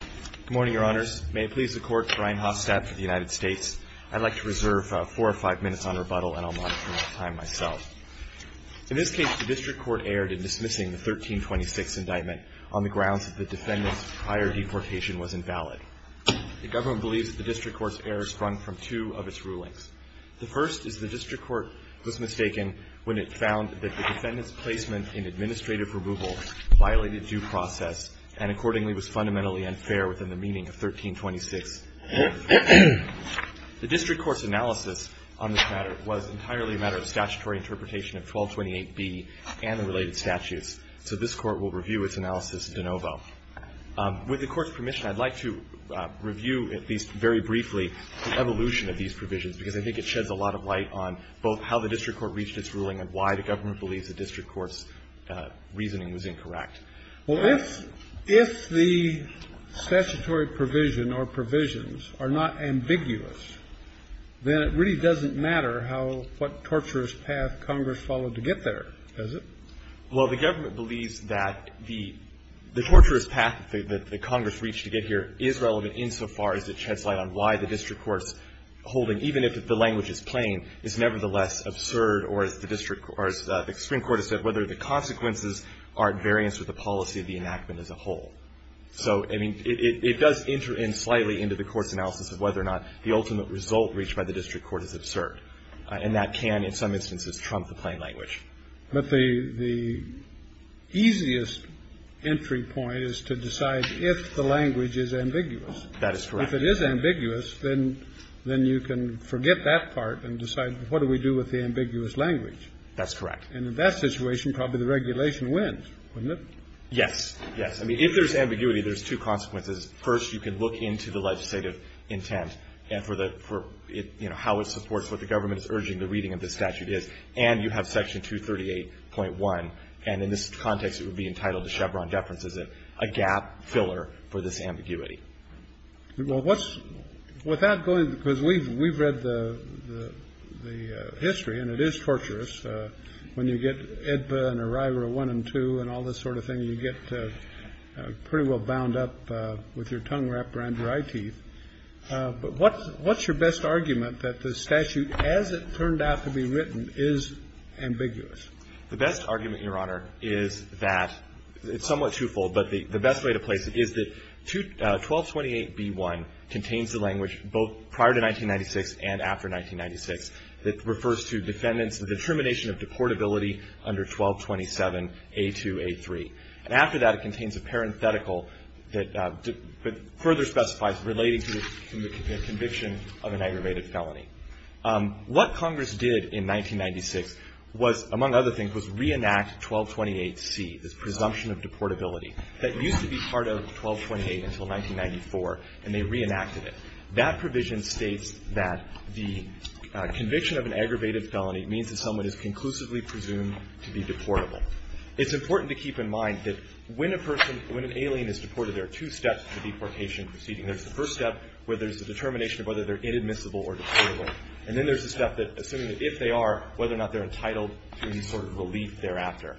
Good morning, Your Honors. May it please the Court, Brian Hostad for the United States. I'd like to reserve four or five minutes on rebuttal, and I'll monitor my time myself. In this case, the district court erred in dismissing the 1326 indictment on the grounds that the defendant's prior deportation was invalid. The government believes that the district court's errors sprung from two of its rulings. The first is the district court was mistaken when it found that the defendant's placement in administrative removal violated due process and accordingly was fundamentally unfair within the meaning of 1326. The district court's analysis on this matter was entirely a matter of statutory interpretation of 1228B and the related statutes. So this Court will review its analysis de novo. With the Court's permission, I'd like to review, at least very briefly, the evolution of these provisions, because I think it sheds a lot of light on both how the district court reached its ruling and why the government believes the district court's reasoning was incorrect. Well, if the statutory provision or provisions are not ambiguous, then it really doesn't matter how or what torturous path Congress followed to get there, does it? Well, the government believes that the torturous path that Congress reached to get here is relevant insofar as it sheds light on why the district court's holding, even if the language is plain, is nevertheless absurd, or as the district court has said, whether the consequences are at variance with the policy of the enactment as a whole. So, I mean, it does enter in slightly into the Court's analysis of whether or not the ultimate result reached by the district court is absurd. And that can, in some instances, trump the plain language. But the easiest entry point is to decide if the language is ambiguous. That is correct. If it is ambiguous, then you can forget that part and decide what do we do with the ambiguous language. That's correct. And in that situation, probably the regulation wins, wouldn't it? Yes. Yes. I mean, if there's ambiguity, there's two consequences. First, you can look into the legislative intent and for the – for, you know, how it supports what the government is urging the reading of this statute is. And you have Section 238.1. And in this context, it would be entitled to Chevron deference as a gap filler for this ambiguity. Well, what's – without going – because we've read the history, and it is torturous when you get EDBA and ERIRA 1 and 2 and all this sort of thing, and you get pretty well bound up with your tongue wrapped around your eye teeth. But what's your best argument that the statute, as it turned out to be written, is ambiguous? The best argument, Your Honor, is that – it's somewhat twofold, but the best way to place it is that 1228B1 contains the language both prior to 1996 and after 1996 that refers to defendants' determination of deportability under 1227A2A3. And after that, it contains a parenthetical that further specifies relating to the conviction of an aggravated felony. What Congress did in 1996 was, among other things, was reenact 1228C, this presumption of deportability, that used to be part of 1228 until 1994, and they reenacted it. That provision states that the conviction of an aggravated felony means that someone is conclusively presumed to be deportable. It's important to keep in mind that when a person – when an alien is deported, there are two steps to the deportation proceeding. There's the first step where there's the determination of whether they're inadmissible or deportable. And then there's the step that, assuming that if they are, whether or not they're entitled to any sort of relief thereafter,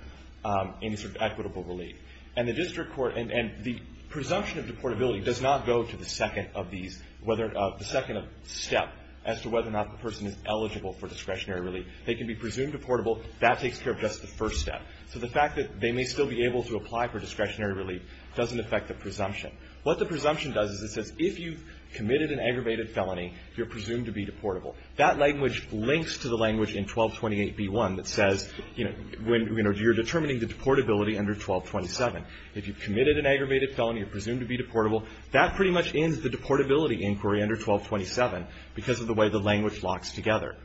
any sort of equitable relief. And the district court – and the presumption of deportability does not go to the second of these, whether – the second step as to whether or not the person is eligible for discretionary relief. They can be presumed deportable. That takes care of just the first step. So the fact that they may still be able to apply for discretionary relief doesn't affect the presumption. What the presumption does is it says if you've committed an aggravated felony, you're presumed to be deportable. That language links to the language in 1228b1 that says, you know, you're determining the deportability under 1227. If you've committed an aggravated felony, you're presumed to be deportable, that pretty much ends the deportability inquiry under 1227 because of the way the language locks together.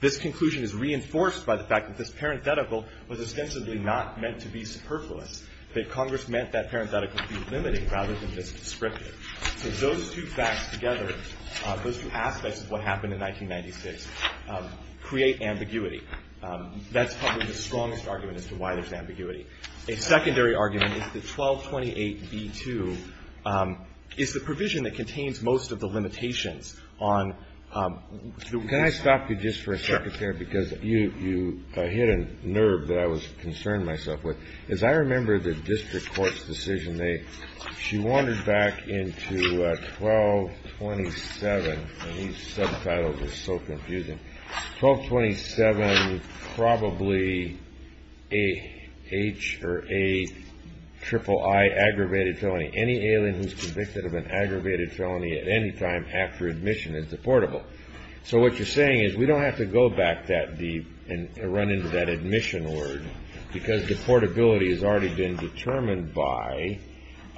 This conclusion is reinforced by the fact that this parenthetical was ostensibly not meant to be superfluous, that Congress meant that parenthetical to be limiting rather than misdescriptive. So those two facts together, those two aspects of what happened in 1996, create ambiguity. That's probably the strongest argument as to why there's ambiguity. A secondary argument is that 1228b2 is the provision that contains most of the limitations on the – Can I stop you just for a second there because you hit a nerve that I was concerned myself with. As I remember the district court's decision, she wandered back into 1227. These subtitles are so confusing. 1227, probably a H or a triple I aggravated felony. Any alien who's convicted of an aggravated felony at any time after admission is deportable. So what you're saying is we don't have to go back that deep and run into that admission word because deportability has already been determined by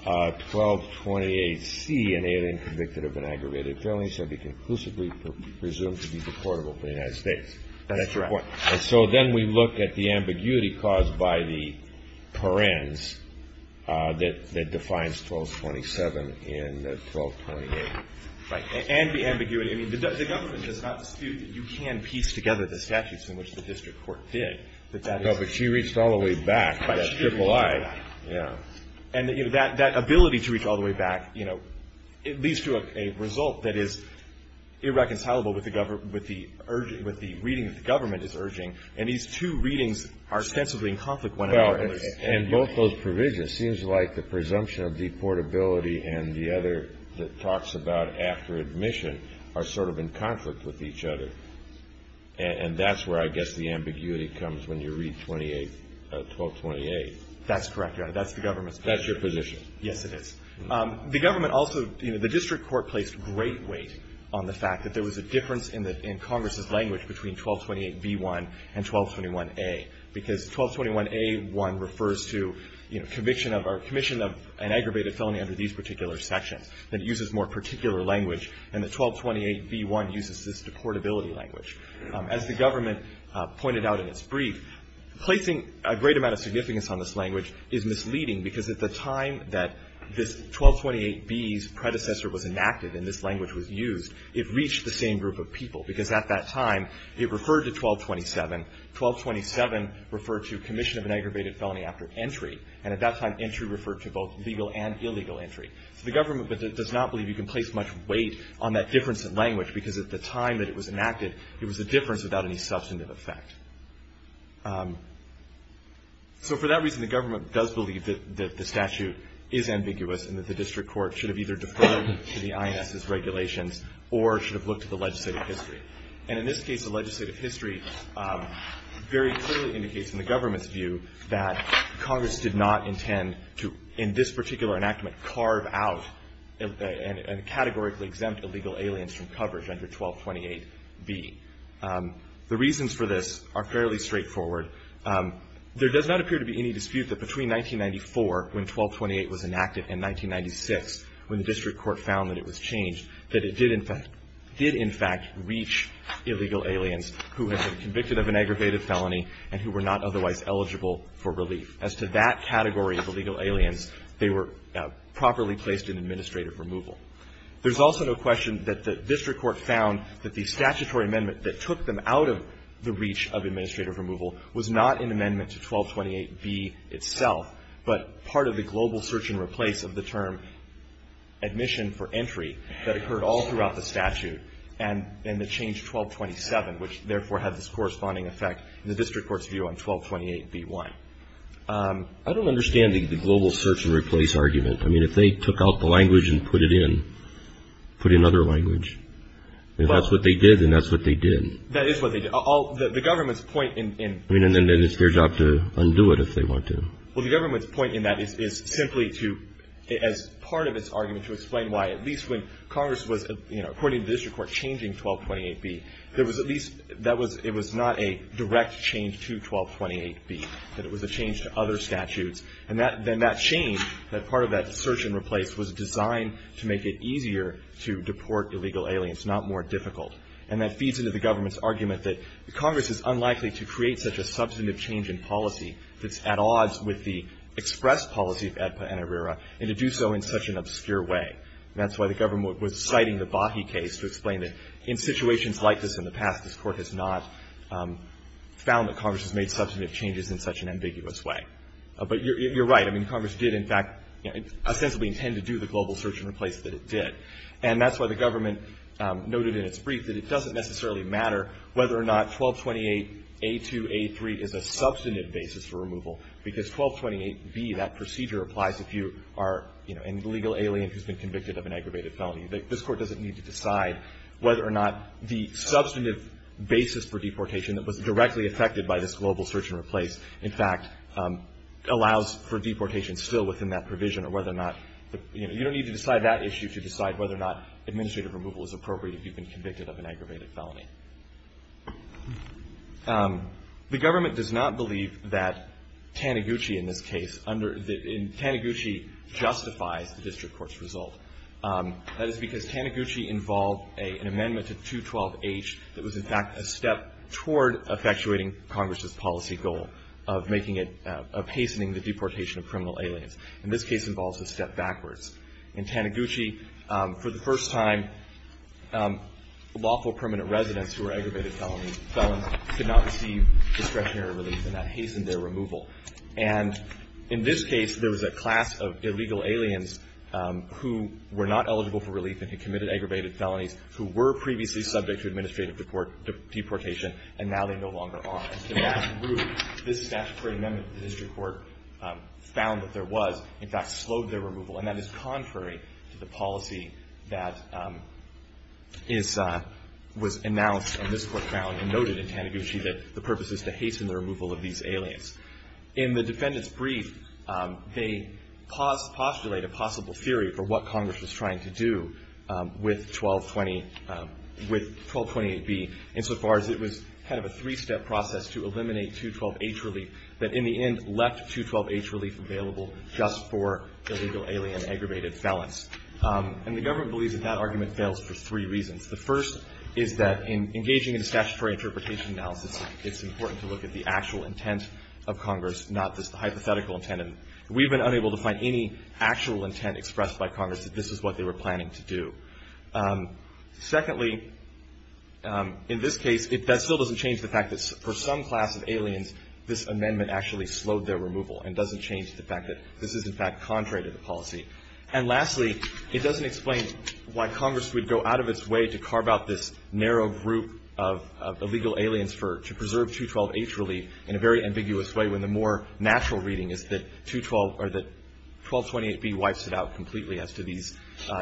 1228c, an alien convicted of an aggravated felony shall be conclusively presumed to be deportable for the United States. That's correct. And so then we look at the ambiguity caused by the parens that defines 1227 in 1228. Right. And the ambiguity. I mean, the government does not dispute that you can piece together the statutes in which the district court did. No, but she reached all the way back. By a triple I. Yeah. And that ability to reach all the way back, you know, it leads to a result that is irreconcilable with the reading that the government is urging. And these two readings are ostensibly in conflict one another. And both those provisions seems like the presumption of deportability and the other that talks about after admission are sort of in conflict with each other. And that's where I guess the ambiguity comes when you read 1228. That's correct, Your Honor. That's the government's position. That's your position. Yes, it is. The government also, you know, the district court placed great weight on the fact that there was a difference in Congress's language between 1228b1 and 1221a because 1221a1 refers to, you know, conviction of or commission of an aggravated felony under these particular sections. And it uses more particular language. And the 1228b1 uses this deportability language. As the government pointed out in its brief, placing a great amount of significance on this language is misleading because at the time that this 1228b's predecessor was enacted and this language was used, it reached the same group of people because at that time it referred to 1227. 1227 referred to commission of an aggravated felony after entry, and at that time entry referred to both legal and illegal entry. So the government does not believe you can place much weight on that difference in language because at the time that it was enacted, it was a difference without any substantive effect. So for that reason, the government does believe that the statute is ambiguous and that the district court should have either deferred to the INS's regulations or should have looked to the legislative history. And in this case, the legislative history very clearly indicates in the government's view that Congress did not intend to, in this particular enactment, carve out and categorically exempt illegal aliens from coverage under 1228b. The reasons for this are fairly straightforward. There does not appear to be any dispute that between 1994, when 1228 was enacted, and 1996, when the district court found that it was changed, that it did in fact reach illegal aliens who had been convicted of an aggravated felony and who were not otherwise eligible for relief. As to that category of illegal aliens, they were properly placed in administrative removal. There's also no question that the district court found that the statutory amendment that took them out of the reach of administrative removal was not an amendment to 1228b itself, but part of the global search and replace of the term admission for entry that occurred all throughout the statute and the change 1227, which therefore had this corresponding effect in the district court's view on 1228b-1. I don't understand the global search and replace argument. I mean, if they took out the language and put it in, put in other language, if that's what they did, then that's what they did. That is what they did. The government's point in… I mean, and then it's their job to undo it if they want to. Well, the government's point in that is simply to, as part of its argument, to explain why at least when Congress was, you know, according to the district court, changing 1228b, there was at least, that was, it was not a direct change to 1228b, that it was a change to other statutes. And that, then that change, that part of that search and replace was designed to make it easier to deport illegal aliens, not more difficult. And that feeds into the government's argument that Congress is unlikely to create such a substantive change in policy that's at odds with the expressed policy of AEDPA and ARERA, and to do so in such an obscure way. And that's why the government was citing the Bahi case to explain that in situations like this in the past, this Court has not found that Congress has made substantive changes in such an ambiguous way. But you're right. I mean, Congress did, in fact, ostensibly intend to do the global search and replace that it did. And that's why the government noted in its brief that it doesn't necessarily matter whether or not 1228a2a3 is a substantive basis for removal. Because 1228b, that procedure applies if you are, you know, an illegal alien who's been convicted of an aggravated felony. This Court doesn't need to decide whether or not the substantive basis for deportation that was directly affected by this global search and replace, in fact, allows for deportation still within that provision, or whether or not, you know, you don't need to decide that issue to decide whether or not administrative removal is appropriate if you've been convicted of an aggravated felony. The government does not believe that Taniguchi, in this case, under the — Taniguchi justifies the district court's result. That is because Taniguchi involved an amendment to 212H that was, in fact, a step toward effectuating Congress's policy goal of making it — of hastening the deportation of criminal aliens. And this case involves a step backwards. In Taniguchi, for the first time, lawful permanent residents who were aggravated felonies — felons could not receive discretionary relief, and that hastened their removal. And in this case, there was a class of illegal aliens who were not eligible for relief and had committed aggravated felonies, who were previously subject to administrative deportation, and now they no longer are. And that rule, this statutory amendment that the district court found that there was, in fact, slowed their removal. And that is contrary to the policy that is — was announced and this court found and noted in Taniguchi that the purpose is to hasten the removal of these aliens. In the defendant's brief, they postulate a possible theory for what Congress was trying to do with 1220 — with 1228B insofar as it was kind of a three-step process to eliminate 212H relief that, in the end, left 212H relief available just for illegal alien aggravated felons. And the government believes that that argument fails for three reasons. The first is that in engaging in a statutory interpretation analysis, it's important to look at the actual intent of Congress, not just the hypothetical intent. And we've been unable to find any actual intent expressed by Congress that this is what they were planning to do. Secondly, in this case, that still doesn't change the fact that for some class of aliens, this amendment actually slowed their removal and doesn't change the fact that this is, in fact, contrary to the policy. And lastly, it doesn't explain why Congress would go out of its way to carve out this narrow group of illegal aliens for — to preserve 212H relief in a very ambiguous way when the more natural reading is that 212 — or that 1228B wipes it out completely as to these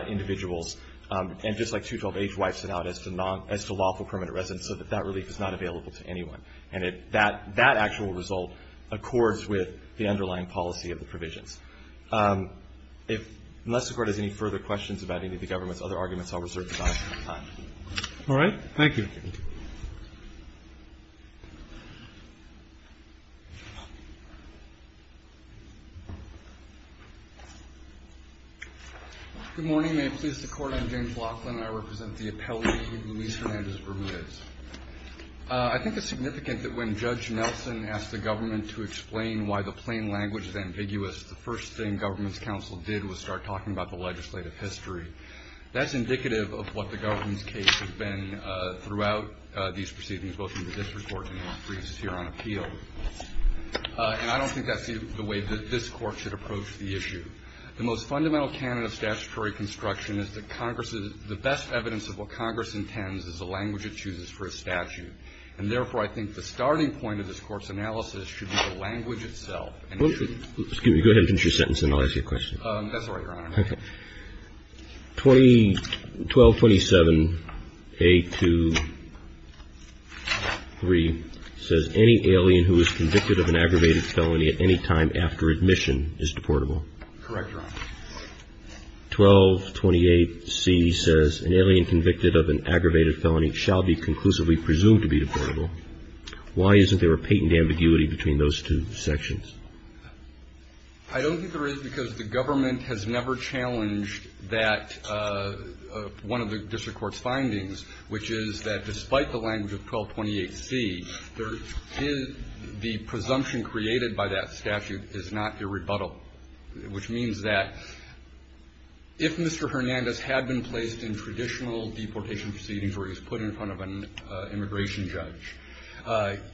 individuals, and just like 212H wipes it out as to lawful permanent residents so that that relief is not available to anyone. And that actual result accords with the underlying policy of the provisions. Unless the Court has any further questions about any of the government's other arguments, I'll reserve the time. All right. Thank you. Good morning. May it please the Court. I'm James Laughlin, and I represent the appellee, Louise Hernandez-Bermudez. I think it's significant that when Judge Nelson asked the government to explain why the plain language is ambiguous, the first thing government's counsel did was start talking about the legislative history. That's indicative of what the government's case has been throughout these proceedings, both in the district court and in the briefs here on appeal. And I don't think that's the way that this Court should approach the issue. The most fundamental canon of statutory construction is that Congress's – the best evidence of what Congress intends is the language it chooses for a statute. And therefore, I think the starting point of this Court's analysis should be the language itself. Excuse me. Go ahead and finish your sentence, and I'll ask you a question. That's all right, Your Honor. Okay. 1227A23 says, Correct, Your Honor. 1228C says, I don't think there is, because the government has never challenged that – one of the district court's findings, which is that despite the language of 1228C, the presumption created by that statute is not a rebuttal, which means that if Mr. Hernandez had been placed in traditional deportation proceedings where he was put in front of an immigration judge,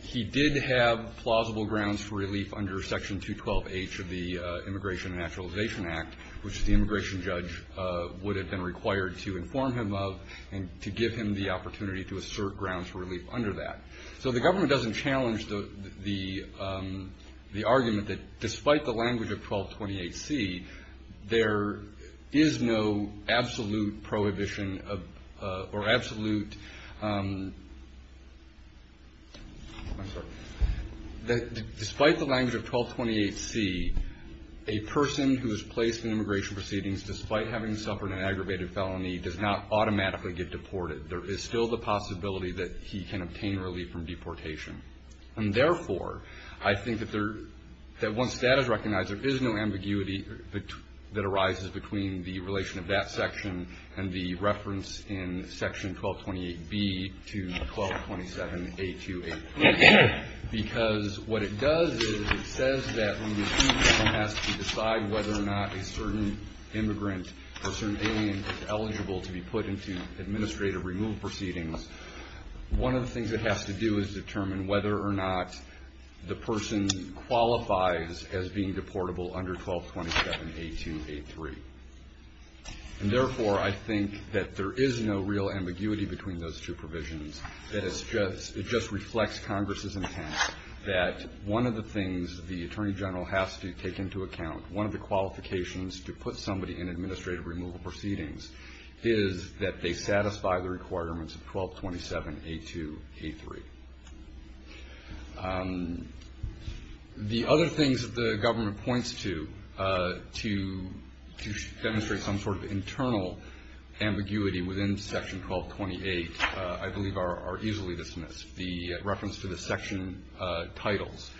he did have plausible grounds for relief under Section 212H of the Immigration and Naturalization Act, which the immigration judge would have been required to inform him of and to give him the opportunity to assert grounds for relief under that. So the government doesn't challenge the argument that despite the language of 1228C, there is no absolute prohibition of – or absolute – I'm sorry. Despite the language of 1228C, a person who is placed in immigration proceedings despite having suffered an aggravated felony does not automatically get deported. There is still the possibility that he can obtain relief from deportation. And therefore, I think that once that is recognized, there is no ambiguity that arises between the relation of that section and the reference in Section 1228B to 1227A28. Because what it does is it says that when a person has to decide whether or not a certain immigrant or a certain alien is eligible to be put into administrative removal proceedings, one of the things it has to do is determine whether or not the person qualifies as being deportable under 1227A283. And therefore, I think that there is no real ambiguity between those two provisions. It just reflects Congress's intent that one of the things the Attorney General has to take into account, one of the qualifications to put somebody in administrative removal proceedings, is that they satisfy the requirements of 1227A283. The other things that the government points to, to demonstrate some sort of internal ambiguity within Section 1228, I believe are easily dismissed. The reference to the section titles,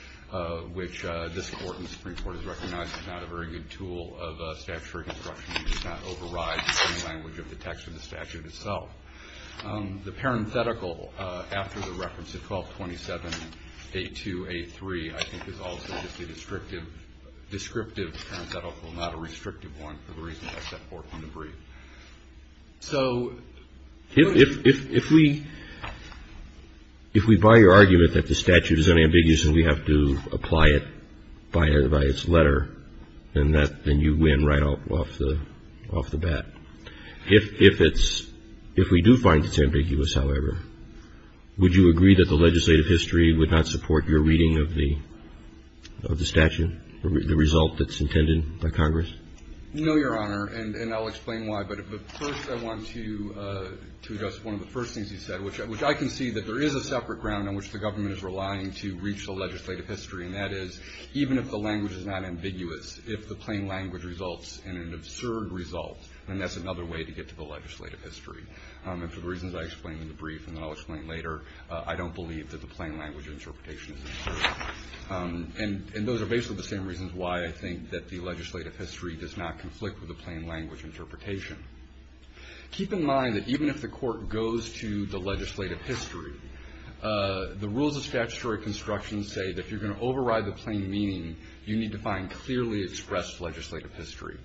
which this Court and the Supreme Court has recognized is not a very good tool of statutory construction. It does not override any language of the text of the statute itself. The parenthetical after the reference to 1227A283, I think, is also just a descriptive parenthetical, not a restrictive one, for the reason I set forth in the brief. If we buy your argument that the statute is unambiguous and we have to apply it by its letter, then you win right off the bat. If we do find it's ambiguous, however, would you agree that the legislative history would not support your reading of the statute, the result that's intended by Congress? No, Your Honor, and I'll explain why. But first I want to address one of the first things you said, which I can see that there is a separate ground on which the government is relying to reach the legislative history, and that is even if the language is not ambiguous, if the plain language results in an absurd result, then that's another way to get to the legislative history. And for the reasons I explained in the brief and that I'll explain later, I don't believe that the plain language interpretation is absurd. And those are basically the same reasons why I think that the legislative history does not conflict with the plain language interpretation. Keep in mind that even if the court goes to the legislative history, the rules of statutory construction say that if you're going to override the plain meaning, you need to find clearly expressed legislative history.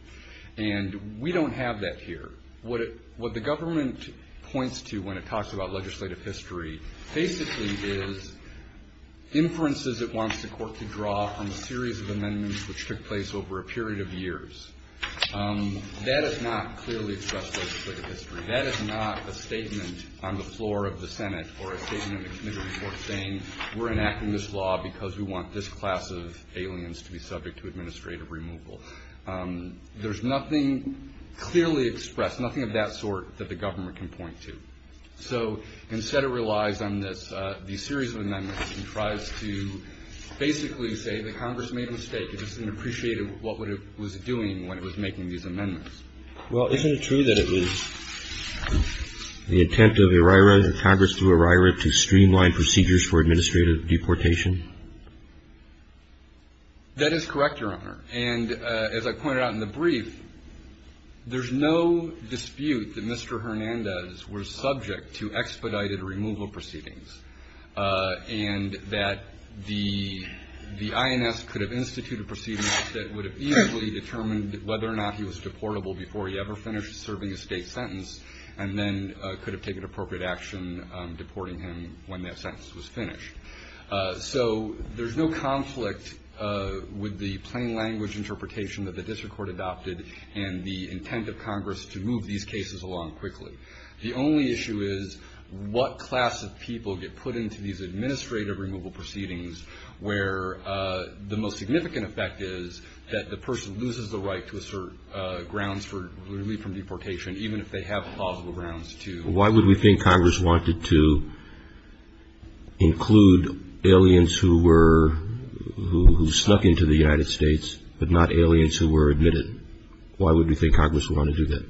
And we don't have that here. What the government points to when it talks about legislative history basically is inferences it wants the court to draw from a series of amendments which took place over a period of years. That is not clearly expressed legislative history. That is not a statement on the floor of the Senate or a statement in a committee report saying we're enacting this law because we want this class of aliens to be subject to administrative removal. There's nothing clearly expressed, nothing of that sort that the government can point to. So instead it relies on these series of amendments and tries to basically say that Congress made a mistake. It just didn't appreciate what it was doing when it was making these amendments. Well, isn't it true that it was the intent of Congress to override it to streamline procedures for administrative deportation? That is correct, Your Honor. And as I pointed out in the brief, there's no dispute that Mr. Hernandez was subject to expedited removal proceedings and that the INS could have instituted proceedings that would have easily determined whether or not he was deportable before he ever finished serving his state sentence and then could have taken appropriate action deporting him when that sentence was finished. So there's no conflict with the plain language interpretation that the district court adopted and the intent of Congress to move these cases along quickly. The only issue is what class of people get put into these administrative removal proceedings where the most significant effect is that the person loses the right to assert grounds for relief from deportation even if they have plausible grounds to. Why would we think Congress wanted to include aliens who snuck into the United States but not aliens who were admitted? Why would we think Congress would want to do that?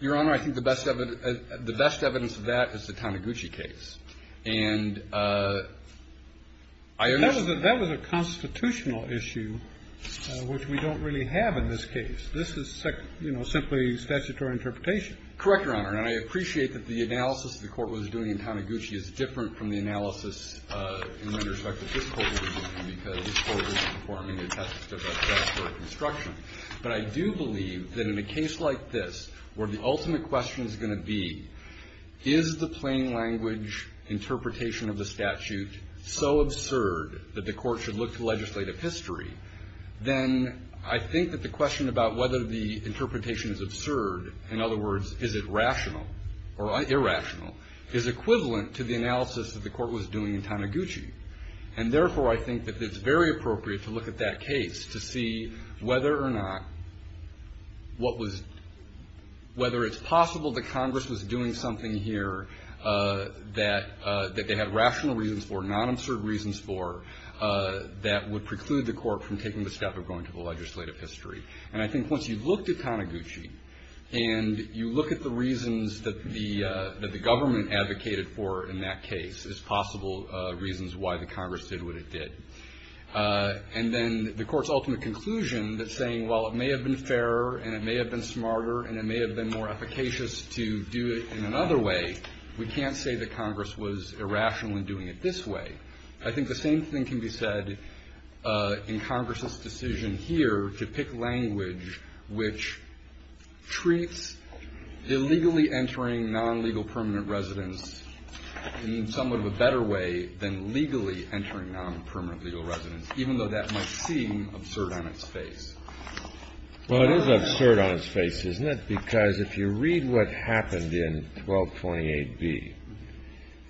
Your Honor, I think the best evidence of that is the Taniguchi case. And I am not sure that that was a constitutional issue, which we don't really have in this case. This is, you know, simply statutory interpretation. Correct, Your Honor. And I appreciate that the analysis the Court was doing in Taniguchi is different from the analysis in retrospect that this Court was doing because the Court was performing a test of a statutory construction. But I do believe that in a case like this where the ultimate question is going to be, is the plain language interpretation of the statute so absurd that the Court should look to legislative history, then I think that the question about whether the interpretation is absurd, in other words, is it rational or irrational, is equivalent to the analysis that the Court was doing in Taniguchi. And therefore, I think that it's very appropriate to look at that case to see whether or not what was, whether it's possible that Congress was doing something here that they had rational reasons for, non-absurd reasons for, that would preclude the Court from taking the step of going to the legislative history. And I think once you've looked at Taniguchi and you look at the reasons that the government advocated for in that case, it's possible reasons why the Congress did what it did. And then the Court's ultimate conclusion that's saying, well, it may have been fairer and it may have been smarter and it may have been more efficacious to do it in another way. We can't say that Congress was irrational in doing it this way. I think the same thing can be said in Congress's decision here to pick language which treats illegally entering non-legal permanent residence in somewhat of a better way than legally entering non-permanent legal residence, even though that might seem absurd on its face. Well, it is absurd on its face, isn't it? Because if you read what happened in 1228b,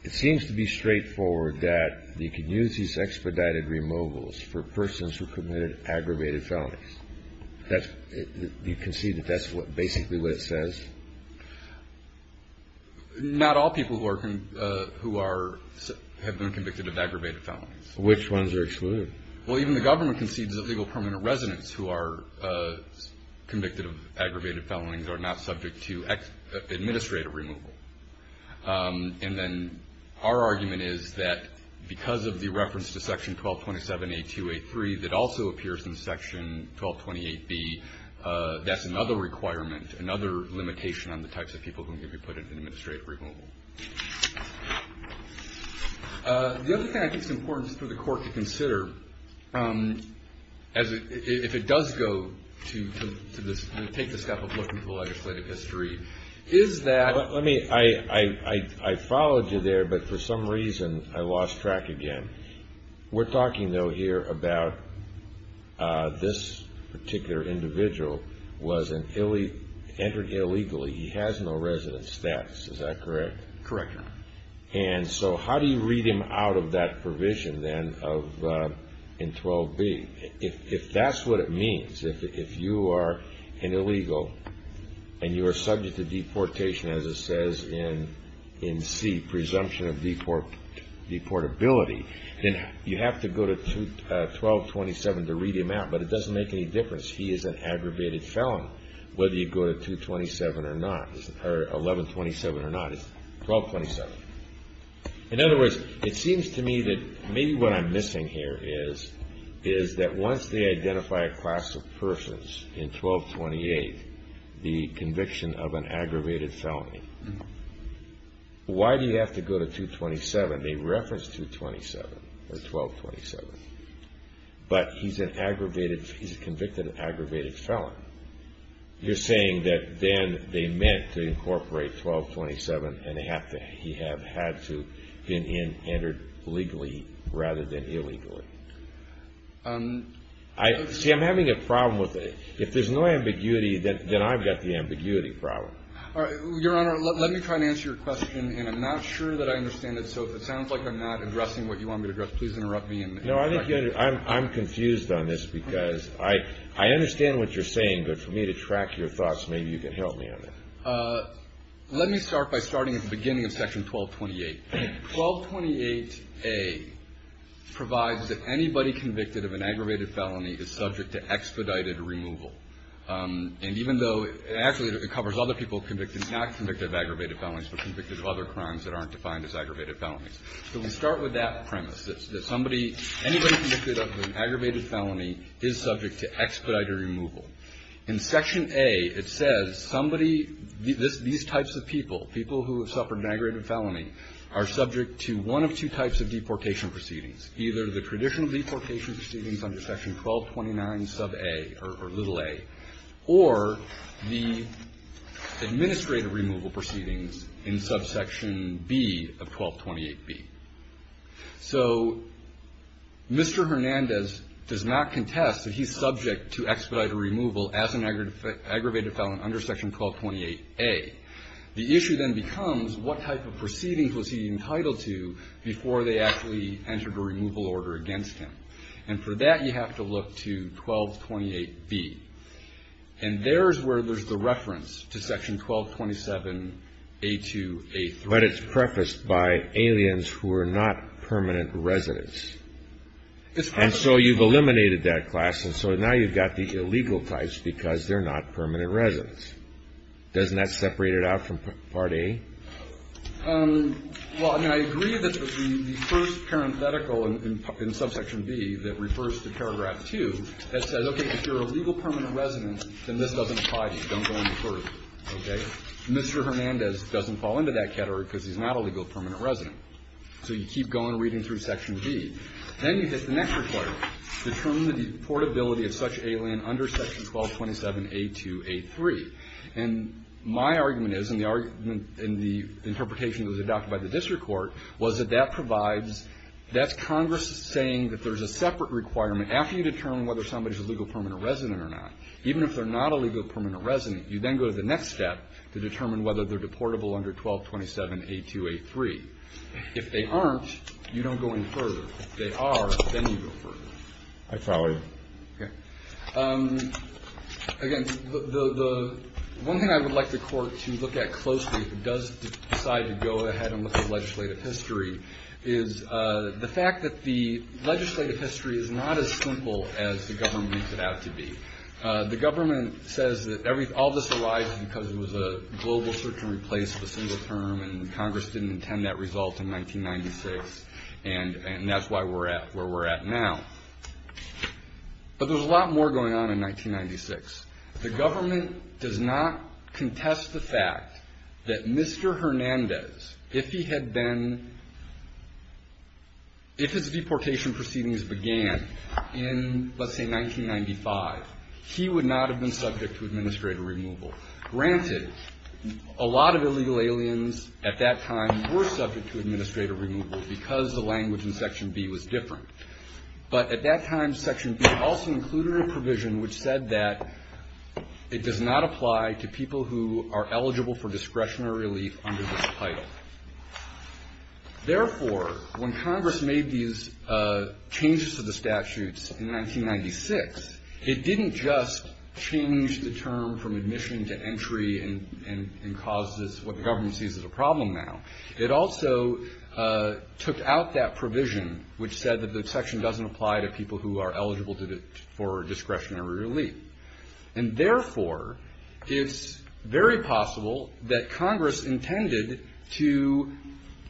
it seems to be straightforward that you can use these expedited removals for persons who committed aggravated felonies. Do you concede that that's basically what it says? Not all people who have been convicted of aggravated felonies. Which ones are excluded? Well, even the government concedes that legal permanent residents who are convicted of aggravated felonies are not subject to administrative removal. And then our argument is that because of the reference to Section 1227A283 that also appears in Section 1228b, that's another requirement, another limitation on the types of people who can be put in administrative removal. The other thing I think is important for the Court to consider, if it does go to take the step of looking at the legislative history, is that- I followed you there, but for some reason I lost track again. We're talking, though, here about this particular individual was entered illegally. He has no resident status. Is that correct? Correct. And so how do you read him out of that provision then in 12b? If that's what it means, if you are an illegal and you are subject to deportation, as it says in C, presumption of deportability, then you have to go to 1227 to read him out. But it doesn't make any difference. He is an aggravated felon whether you go to 227 or not, or 1127 or not. It's 1227. In other words, it seems to me that maybe what I'm missing here is that once they identify a class of persons in 1228, the conviction of an aggravated felony, why do you have to go to 227? They reference 227 or 1227. But he's an aggravated-he's convicted of aggravated felon. You're saying that then they meant to incorporate 1227, and he had to have been entered legally rather than illegally. See, I'm having a problem with it. If there's no ambiguity, then I've got the ambiguity problem. Your Honor, let me try to answer your question, and I'm not sure that I understand it. So if it sounds like I'm not addressing what you want me to address, please interrupt me. No, I'm confused on this because I understand what you're saying, but for me to track your thoughts, maybe you can help me on that. Let me start by starting at the beginning of Section 1228. 1228A provides that anybody convicted of an aggravated felony is subject to expedited removal. And even though it actually covers other people convicted, not convicted of aggravated felonies, but convicted of other crimes that aren't defined as aggravated felonies. So we start with that premise, that anybody convicted of an aggravated felony is subject to expedited removal. In Section A, it says somebody, these types of people, people who have suffered an aggravated felony, are subject to one of two types of deportation proceedings. Either the traditional deportation proceedings under Section 1229 sub A or little a, or the administrative removal proceedings in subsection B of 1228B. So Mr. Hernandez does not contest that he's subject to expedited removal as an aggravated felon under Section 1228A. The issue then becomes what type of proceedings was he entitled to before they actually entered a removal order against him. And for that, you have to look to 1228B. And there's where there's the reference to Section 1227A2A3. But it's prefaced by aliens who are not permanent residents. And so you've eliminated that class. And so now you've got the illegal types because they're not permanent residents. Doesn't that separate it out from Part A? Well, I mean, I agree that the first parenthetical in subsection B that refers to paragraph 2, that says, okay, if you're a legal permanent resident, then this doesn't apply to you. Don't go any further. Okay? Mr. Hernandez doesn't fall into that category because he's not a legal permanent resident. So you keep going, reading through Section B. Then you hit the next requirement. Determine the deportability of such alien under Section 1227A2A3. And my argument is, and the interpretation that was adopted by the district court, was that that provides that's Congress saying that there's a separate requirement after you determine whether somebody's a legal permanent resident or not. Even if they're not a legal permanent resident, you then go to the next step to determine whether they're deportable under 1227A283. If they aren't, you don't go any further. If they are, then you go further. I follow you. Okay. Again, the one thing I would like the Court to look at closely, if it does decide to go ahead and look at legislative history, is the fact that the legislative history is not as simple as the government makes it out to be. The government says that all this arises because it was a global search and replace of a single term, and Congress didn't intend that result in 1996, and that's where we're at now. But there's a lot more going on in 1996. The government does not contest the fact that Mr. Hernandez, if he had been, if his deportation proceedings began in, let's say, 1995, he would not have been subject to administrative removal. Granted, a lot of illegal aliens at that time were subject to administrative removal because the language in Section B was different. But at that time, Section B also included a provision which said that it does not apply to people who are eligible for discretionary relief under this title. Therefore, when Congress made these changes to the statutes in 1996, it didn't just change the term from admission to entry and causes what the government sees as a problem now. It also took out that provision, which said that the section doesn't apply to people who are eligible for discretionary relief. And therefore, it's very possible that Congress intended to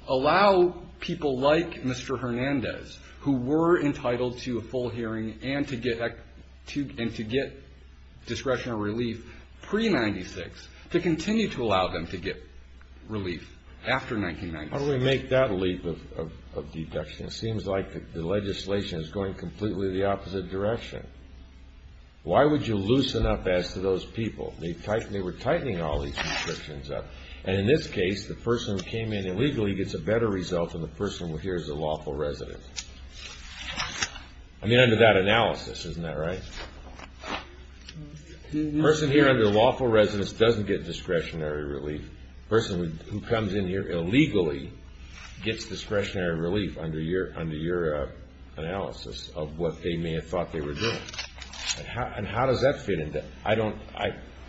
allow people like Mr. Hernandez, who were entitled to a full hearing and to get discretionary relief pre-'96, to continue to allow them to get relief after 1996. How do we make that leap of deduction? It seems like the legislation is going completely the opposite direction. Why would you loosen up as to those people? They were tightening all these restrictions up. And in this case, the person who came in illegally gets a better result than the person who was here as a lawful resident. I mean, under that analysis, isn't that right? The person here under lawful residence doesn't get discretionary relief. The person who comes in here illegally gets discretionary relief under your analysis of what they may have thought they were doing. And how does that fit in?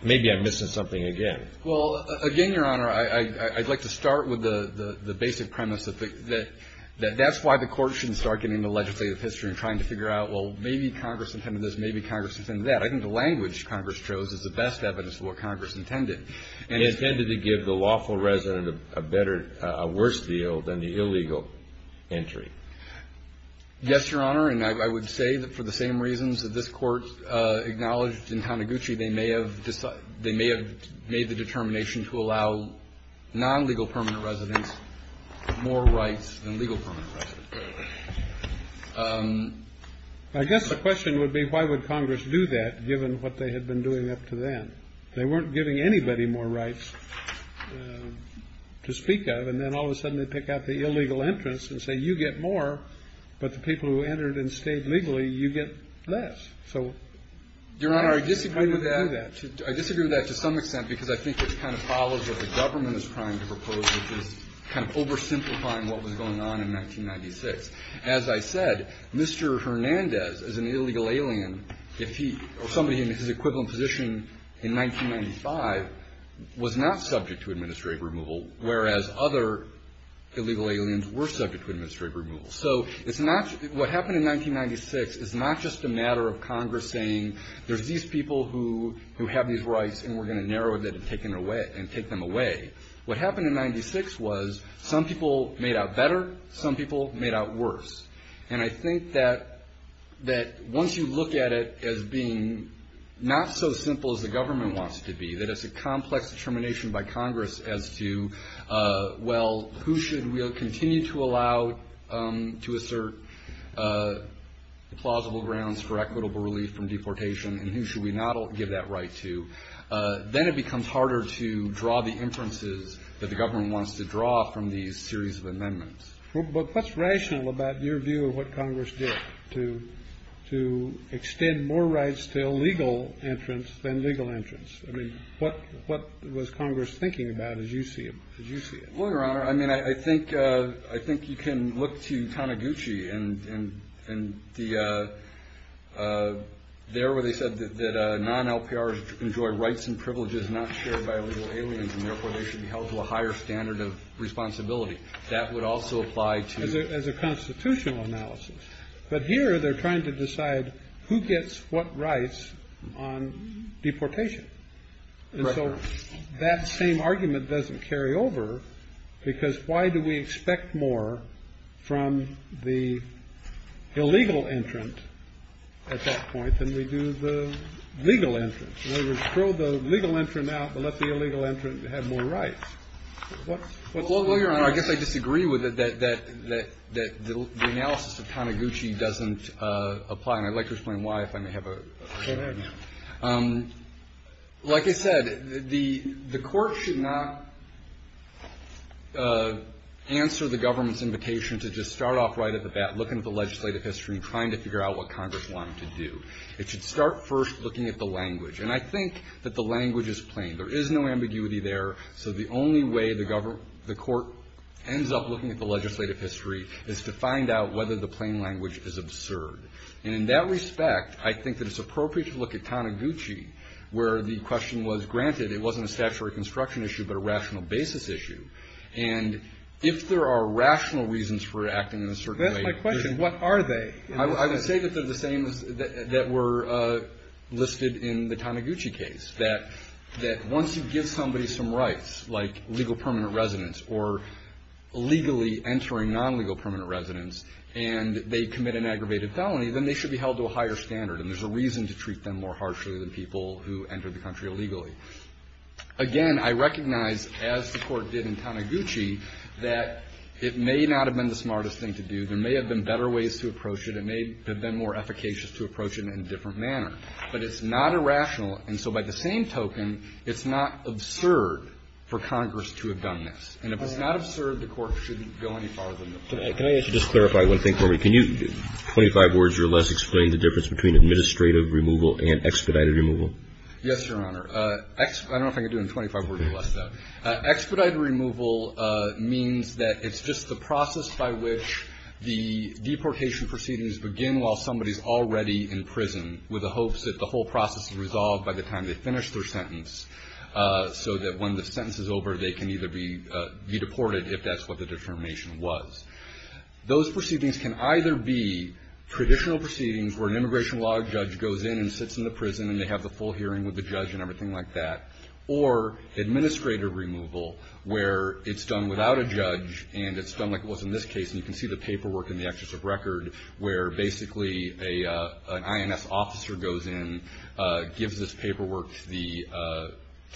Maybe I'm missing something again. Well, again, Your Honor, I'd like to start with the basic premise that that's why the court shouldn't start getting into legislative history and trying to figure out, well, maybe Congress intended this, maybe Congress intended that. I think the language Congress chose is the best evidence for what Congress intended. They intended to give the lawful resident a better, a worse deal than the illegal entry. Yes, Your Honor, and I would say that for the same reasons that this Court acknowledged in Taniguchi, they may have made the determination to allow non-legal permanent residents more rights than legal permanent residents. I guess the question would be why would Congress do that, given what they had been doing up to then? They weren't giving anybody more rights to speak of, and then all of a sudden they pick out the illegal entrance and say, you get more, but the people who entered and stayed legally, you get less. So why would they do that? Your Honor, I disagree with that to some extent because I think it kind of follows what the government is trying to propose, which is kind of oversimplifying what was going on in 1996. As I said, Mr. Hernandez is an illegal alien. Somebody in his equivalent position in 1995 was not subject to administrative removal, whereas other illegal aliens were subject to administrative removal. So what happened in 1996 is not just a matter of Congress saying, there's these people who have these rights, and we're going to narrow it and take them away. What happened in 1996 was some people made out better, some people made out worse. And I think that once you look at it as being not so simple as the government wants it to be, that it's a complex determination by Congress as to, well, who should we continue to allow to assert plausible grounds for equitable relief from deportation, and who should we not give that right to, then it becomes harder to draw the inferences that the government wants to draw from these series of amendments. But what's rational about your view of what Congress did to extend more rights to legal entrance than legal entrance? I mean, what was Congress thinking about as you see it? Well, Your Honor, I mean, I think you can look to Taniguchi, and there where they said that non-LPRs enjoy rights and privileges not shared by illegal aliens, and therefore they should be held to a higher standard of responsibility. That would also apply to- As a constitutional analysis. But here they're trying to decide who gets what rights on deportation. And so that same argument doesn't carry over, because why do we expect more from the illegal entrant at that point than we do the legal entrant? We would throw the legal entrant out and let the illegal entrant have more rights. Well, Your Honor, I guess I disagree with it, that the analysis of Taniguchi doesn't apply. And I'd like to explain why if I may have a moment. Go ahead. Like I said, the Court should not answer the government's invitation to just start off right at the bat looking at the legislative history and trying to figure out what Congress wanted to do. It should start first looking at the language. And I think that the language is plain. There is no ambiguity there. So the only way the Court ends up looking at the legislative history is to find out whether the plain language is absurd. And in that respect, I think that it's appropriate to look at Taniguchi, where the question was, granted, it wasn't a statutory construction issue, but a rational basis issue. And if there are rational reasons for acting in a certain way- That's my question. What are they? I would say that they're the same that were listed in the Taniguchi case, that once you give somebody some rights, like legal permanent residence or legally entering non-legal permanent residence, and they commit an aggravated felony, then they should be held to a higher standard. And there's a reason to treat them more harshly than people who enter the country illegally. Again, I recognize, as the Court did in Taniguchi, that it may not have been the smartest thing to do. There may have been better ways to approach it. It may have been more efficacious to approach it in a different manner. But it's not irrational. And so by the same token, it's not absurd for Congress to have done this. And if it's not absurd, the Court shouldn't go any farther than that. Can I ask you to just clarify one thing for me? Can you, in 25 words or less, explain the difference between administrative removal and expedited removal? Yes, Your Honor. I don't know if I can do it in 25 words or less, though. Expedited removal means that it's just the process by which the deportation proceedings begin while somebody is already in prison, with the hopes that the whole process is resolved by the time they finish their sentence, so that when the sentence is over, they can either be deported, if that's what the determination was. Those proceedings can either be traditional proceedings where an immigration law judge goes in and sits in the prison, and they have the full hearing with the judge and everything like that, or administrative removal, where it's done without a judge, and it's done like it was in this case. And you can see the paperwork in the excerpt of record, where basically an INS officer goes in, gives this paperwork to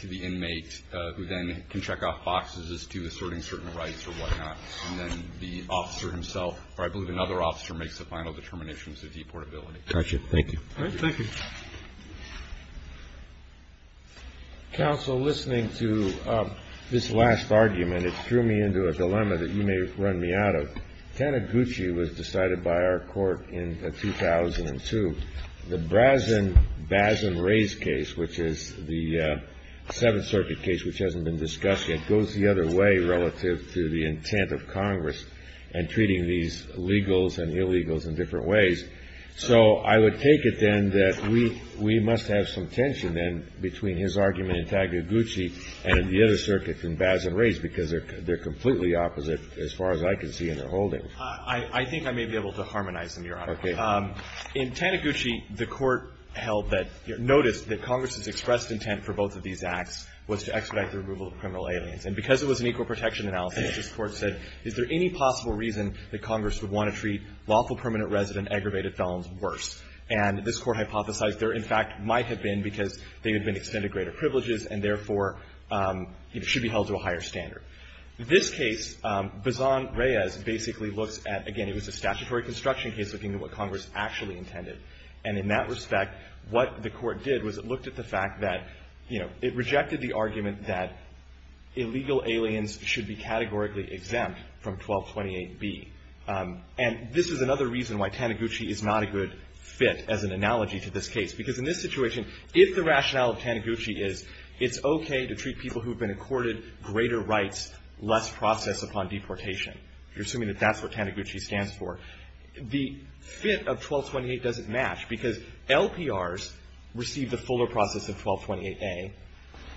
the inmate, who then can check off boxes as to asserting certain rights or whatnot. And then the officer himself, or I believe another officer, makes the final determination as to deportability. Gotcha. Thank you. All right. Thank you. Counsel, listening to this last argument, it threw me into a dilemma that you may run me out of. Taniguchi was decided by our Court in 2002. The Brazen-Bazen-Reyes case, which is the Seventh Circuit case, which hasn't been discussed yet, goes the other way relative to the intent of Congress in treating these legals and illegals in different ways. So I would take it, then, that we must have some tension, then, between his argument in Taniguchi and the other circuits in Bazen-Reyes, because they're completely opposite, as far as I can see, in their holding. I think I may be able to harmonize them, Your Honor. Okay. In Taniguchi, the Court held that notice that Congress's expressed intent for both of these acts was to expedite the removal of criminal aliens. And because it was an equal protection analysis, this Court said, is there any possible reason that Congress would want to treat lawful permanent resident aggravated felons worse? And this Court hypothesized there, in fact, might have been, because they had been extended greater privileges and, therefore, should be held to a higher standard. This case, Bazen-Reyes basically looks at, again, it was a statutory construction case looking at what Congress actually intended. And in that respect, what the Court did was it looked at the fact that, you know, it rejected the argument that illegal aliens should be categorically exempt from 1228B. And this is another reason why Taniguchi is not a good fit as an analogy to this case, because in this situation, if the rationale of Taniguchi is, it's okay to treat people who have been accorded greater rights, less process upon deportation. You're assuming that that's what Taniguchi stands for. The fit of 1228 doesn't match, because LPRs receive the fuller process of 1228A.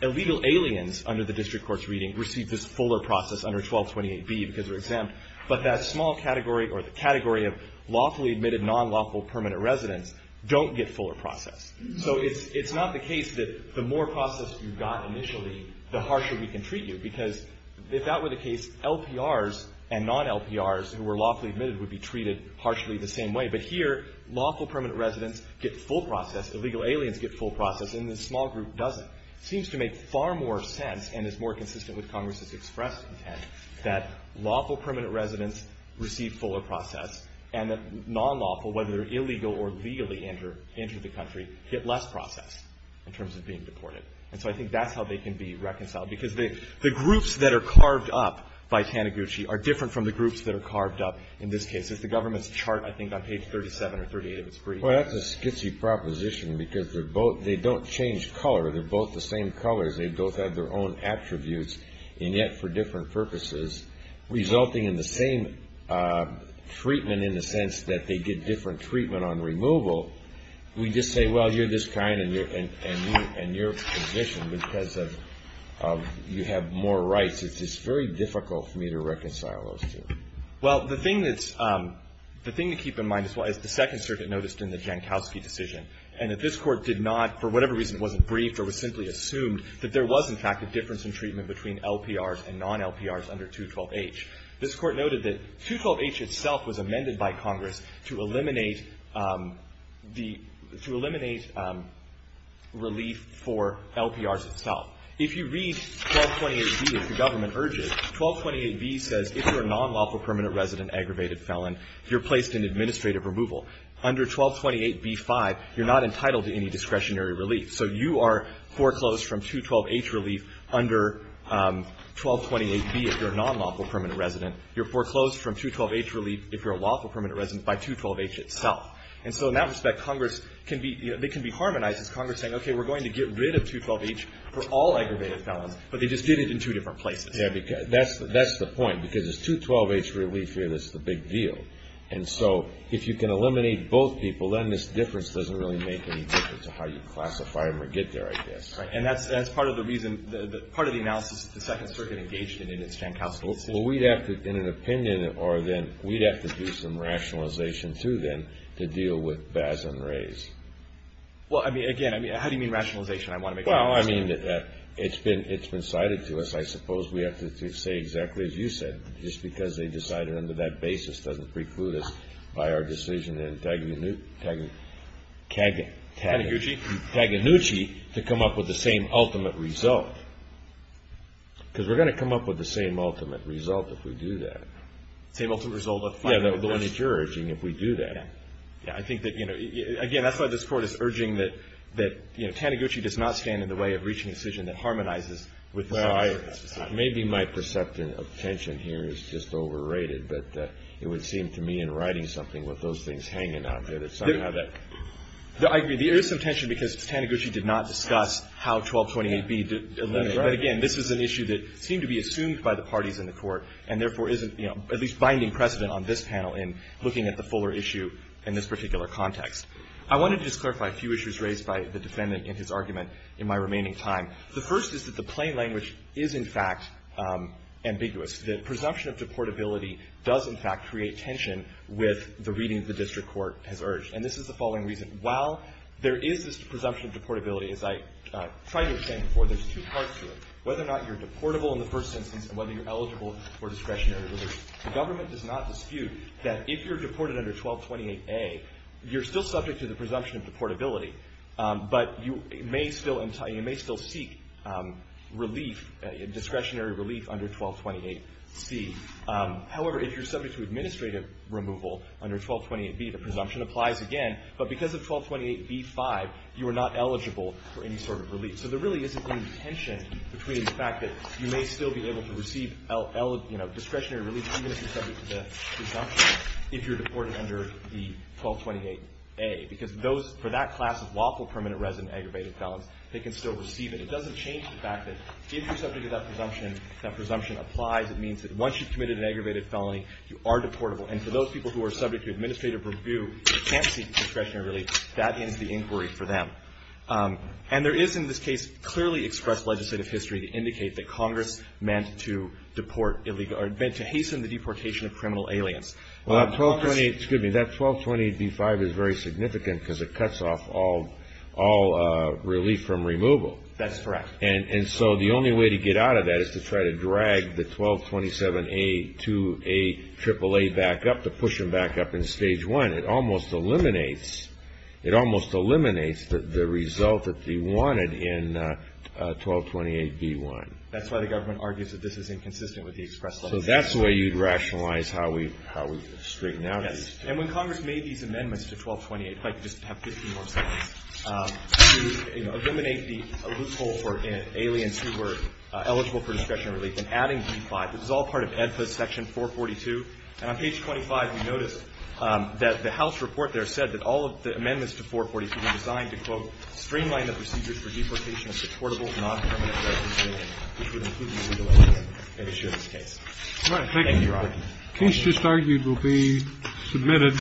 Illegal aliens under the district court's reading receive this fuller process under 1228B because they're exempt. But that small category or the category of lawfully admitted non-lawful permanent residents don't get fuller process. So it's not the case that the more process you got initially, the harsher we can treat you, because if that were the case, LPRs and non-LPRs who were lawfully admitted would be treated harshly the same way. But here, lawful permanent residents get full process. Illegal aliens get full process. And this small group doesn't. It seems to make far more sense and is more consistent with Congress's expressed intent that lawful permanent residents receive fuller process and that non-lawful, whether they're illegal or legally entered the country, get less process in terms of being deported. And so I think that's how they can be reconciled, because the groups that are carved up by Taniguchi are different from the groups that are carved up in this case. There's the government's chart, I think, on page 37 or 38 of its brief. Well, that's a skitzy proposition, because they don't change color. They're both the same colors. They both have their own attributes, and yet for different purposes, resulting in the same treatment in the sense that they get different treatment on removal. We just say, well, you're this kind and you're conditioned because of you have more rights. It's just very difficult for me to reconcile those two. Well, the thing that's the thing to keep in mind as well is the Second Circuit noticed in the Jankowski decision and that this Court did not, for whatever reason it wasn't briefed or was simply assumed, that there was, in fact, a difference in treatment between LPRs and non-LPRs under 212H. This Court noted that 212H itself was amended by Congress to eliminate the – to eliminate relief for LPRs itself. If you read 1228B, if the government urges, 1228B says if you're a non-lawful permanent resident aggravated felon, you're placed in administrative removal. Under 1228B-5, you're not entitled to any discretionary relief. So you are foreclosed from 212H relief under 1228B if you're a non-lawful permanent resident. You're foreclosed from 212H relief if you're a lawful permanent resident by 212H itself. And so in that respect, Congress can be – they can be harmonized as Congress saying, okay, we're going to get rid of 212H for all aggravated felons, but they just did it in two different places. Yeah, because that's the point, because it's 212H relief here that's the big deal. And so if you can eliminate both people, then this difference doesn't really make any difference to how you classify them or get there, I guess. Right. And that's part of the reason – part of the analysis the Second Circuit engaged in in its Jankowski decision. Well, we'd have to – in an opinion or then we'd have to do some rationalization too then to deal with Baz and Rays. Well, I mean, again, I mean, how do you mean rationalization? I want to make – Well, I mean, it's been cited to us. I suppose we have to say exactly as you said, that just because they decided under that basis doesn't preclude us by our decision in Taganucci to come up with the same ultimate result. Because we're going to come up with the same ultimate result if we do that. Same ultimate result of – Yeah, the one that you're urging, if we do that. Yeah, I think that, you know, again, that's why this Court is urging that, you know, Taniguchi does not stand in the way of reaching a decision that harmonizes with the Second Circuit's decision. Maybe my perception of tension here is just overrated, but it would seem to me in writing something with those things hanging out that it's somehow that – I agree. There is some tension because Taniguchi did not discuss how 1228B – That's right. But again, this is an issue that seemed to be assumed by the parties in the Court and therefore isn't, you know, at least binding precedent on this panel in looking at the Fuller issue in this particular context. I wanted to just clarify a few issues raised by the defendant in his argument in my remaining time. The first is that the plain language is, in fact, ambiguous. The presumption of deportability does, in fact, create tension with the reading that the district court has urged. And this is the following reason. While there is this presumption of deportability, as I tried to explain before, there's two parts to it. Whether or not you're deportable in the first instance and whether you're eligible for discretionary release, the government does not dispute that if you're deported under 1228A, you're still subject to the presumption of deportability, but you may still seek relief, discretionary relief under 1228C. However, if you're subject to administrative removal under 1228B, the presumption applies again, but because of 1228B-5, you are not eligible for any sort of relief. So there really isn't any tension between the fact that you may still be able to receive discretionary relief even if you're subject to the presumption if you're deported under the 1228A. Because those, for that class of lawful permanent resident aggravated felons, they can still receive it. It doesn't change the fact that if you're subject to that presumption, that presumption applies. It means that once you've committed an aggravated felony, you are deportable. And for those people who are subject to administrative review and can't seek discretionary relief, that ends the inquiry for them. And there is, in this case, clearly expressed legislative history to indicate that Congress meant to deport illegal or meant to hasten the deportation of criminal aliens. Well, that 1228B-5 is very significant because it cuts off all relief from removal. That's correct. And so the only way to get out of that is to try to drag the 1227A to AAA back up to push them back up in Stage 1. It almost eliminates the result that they wanted in 1228B-1. That's why the government argues that this is inconsistent with the express legislative history. That's the way you'd rationalize how we straighten out. Yes. And when Congress made these amendments to 1228, if I could just have 15 more seconds, to eliminate the loophole for aliens who were eligible for discretionary relief and adding D-5, this is all part of AEDPA's Section 442. And on page 25, you notice that the House report there said that all of the amendments to 442 were designed to, quote, The case just argued will be submitted.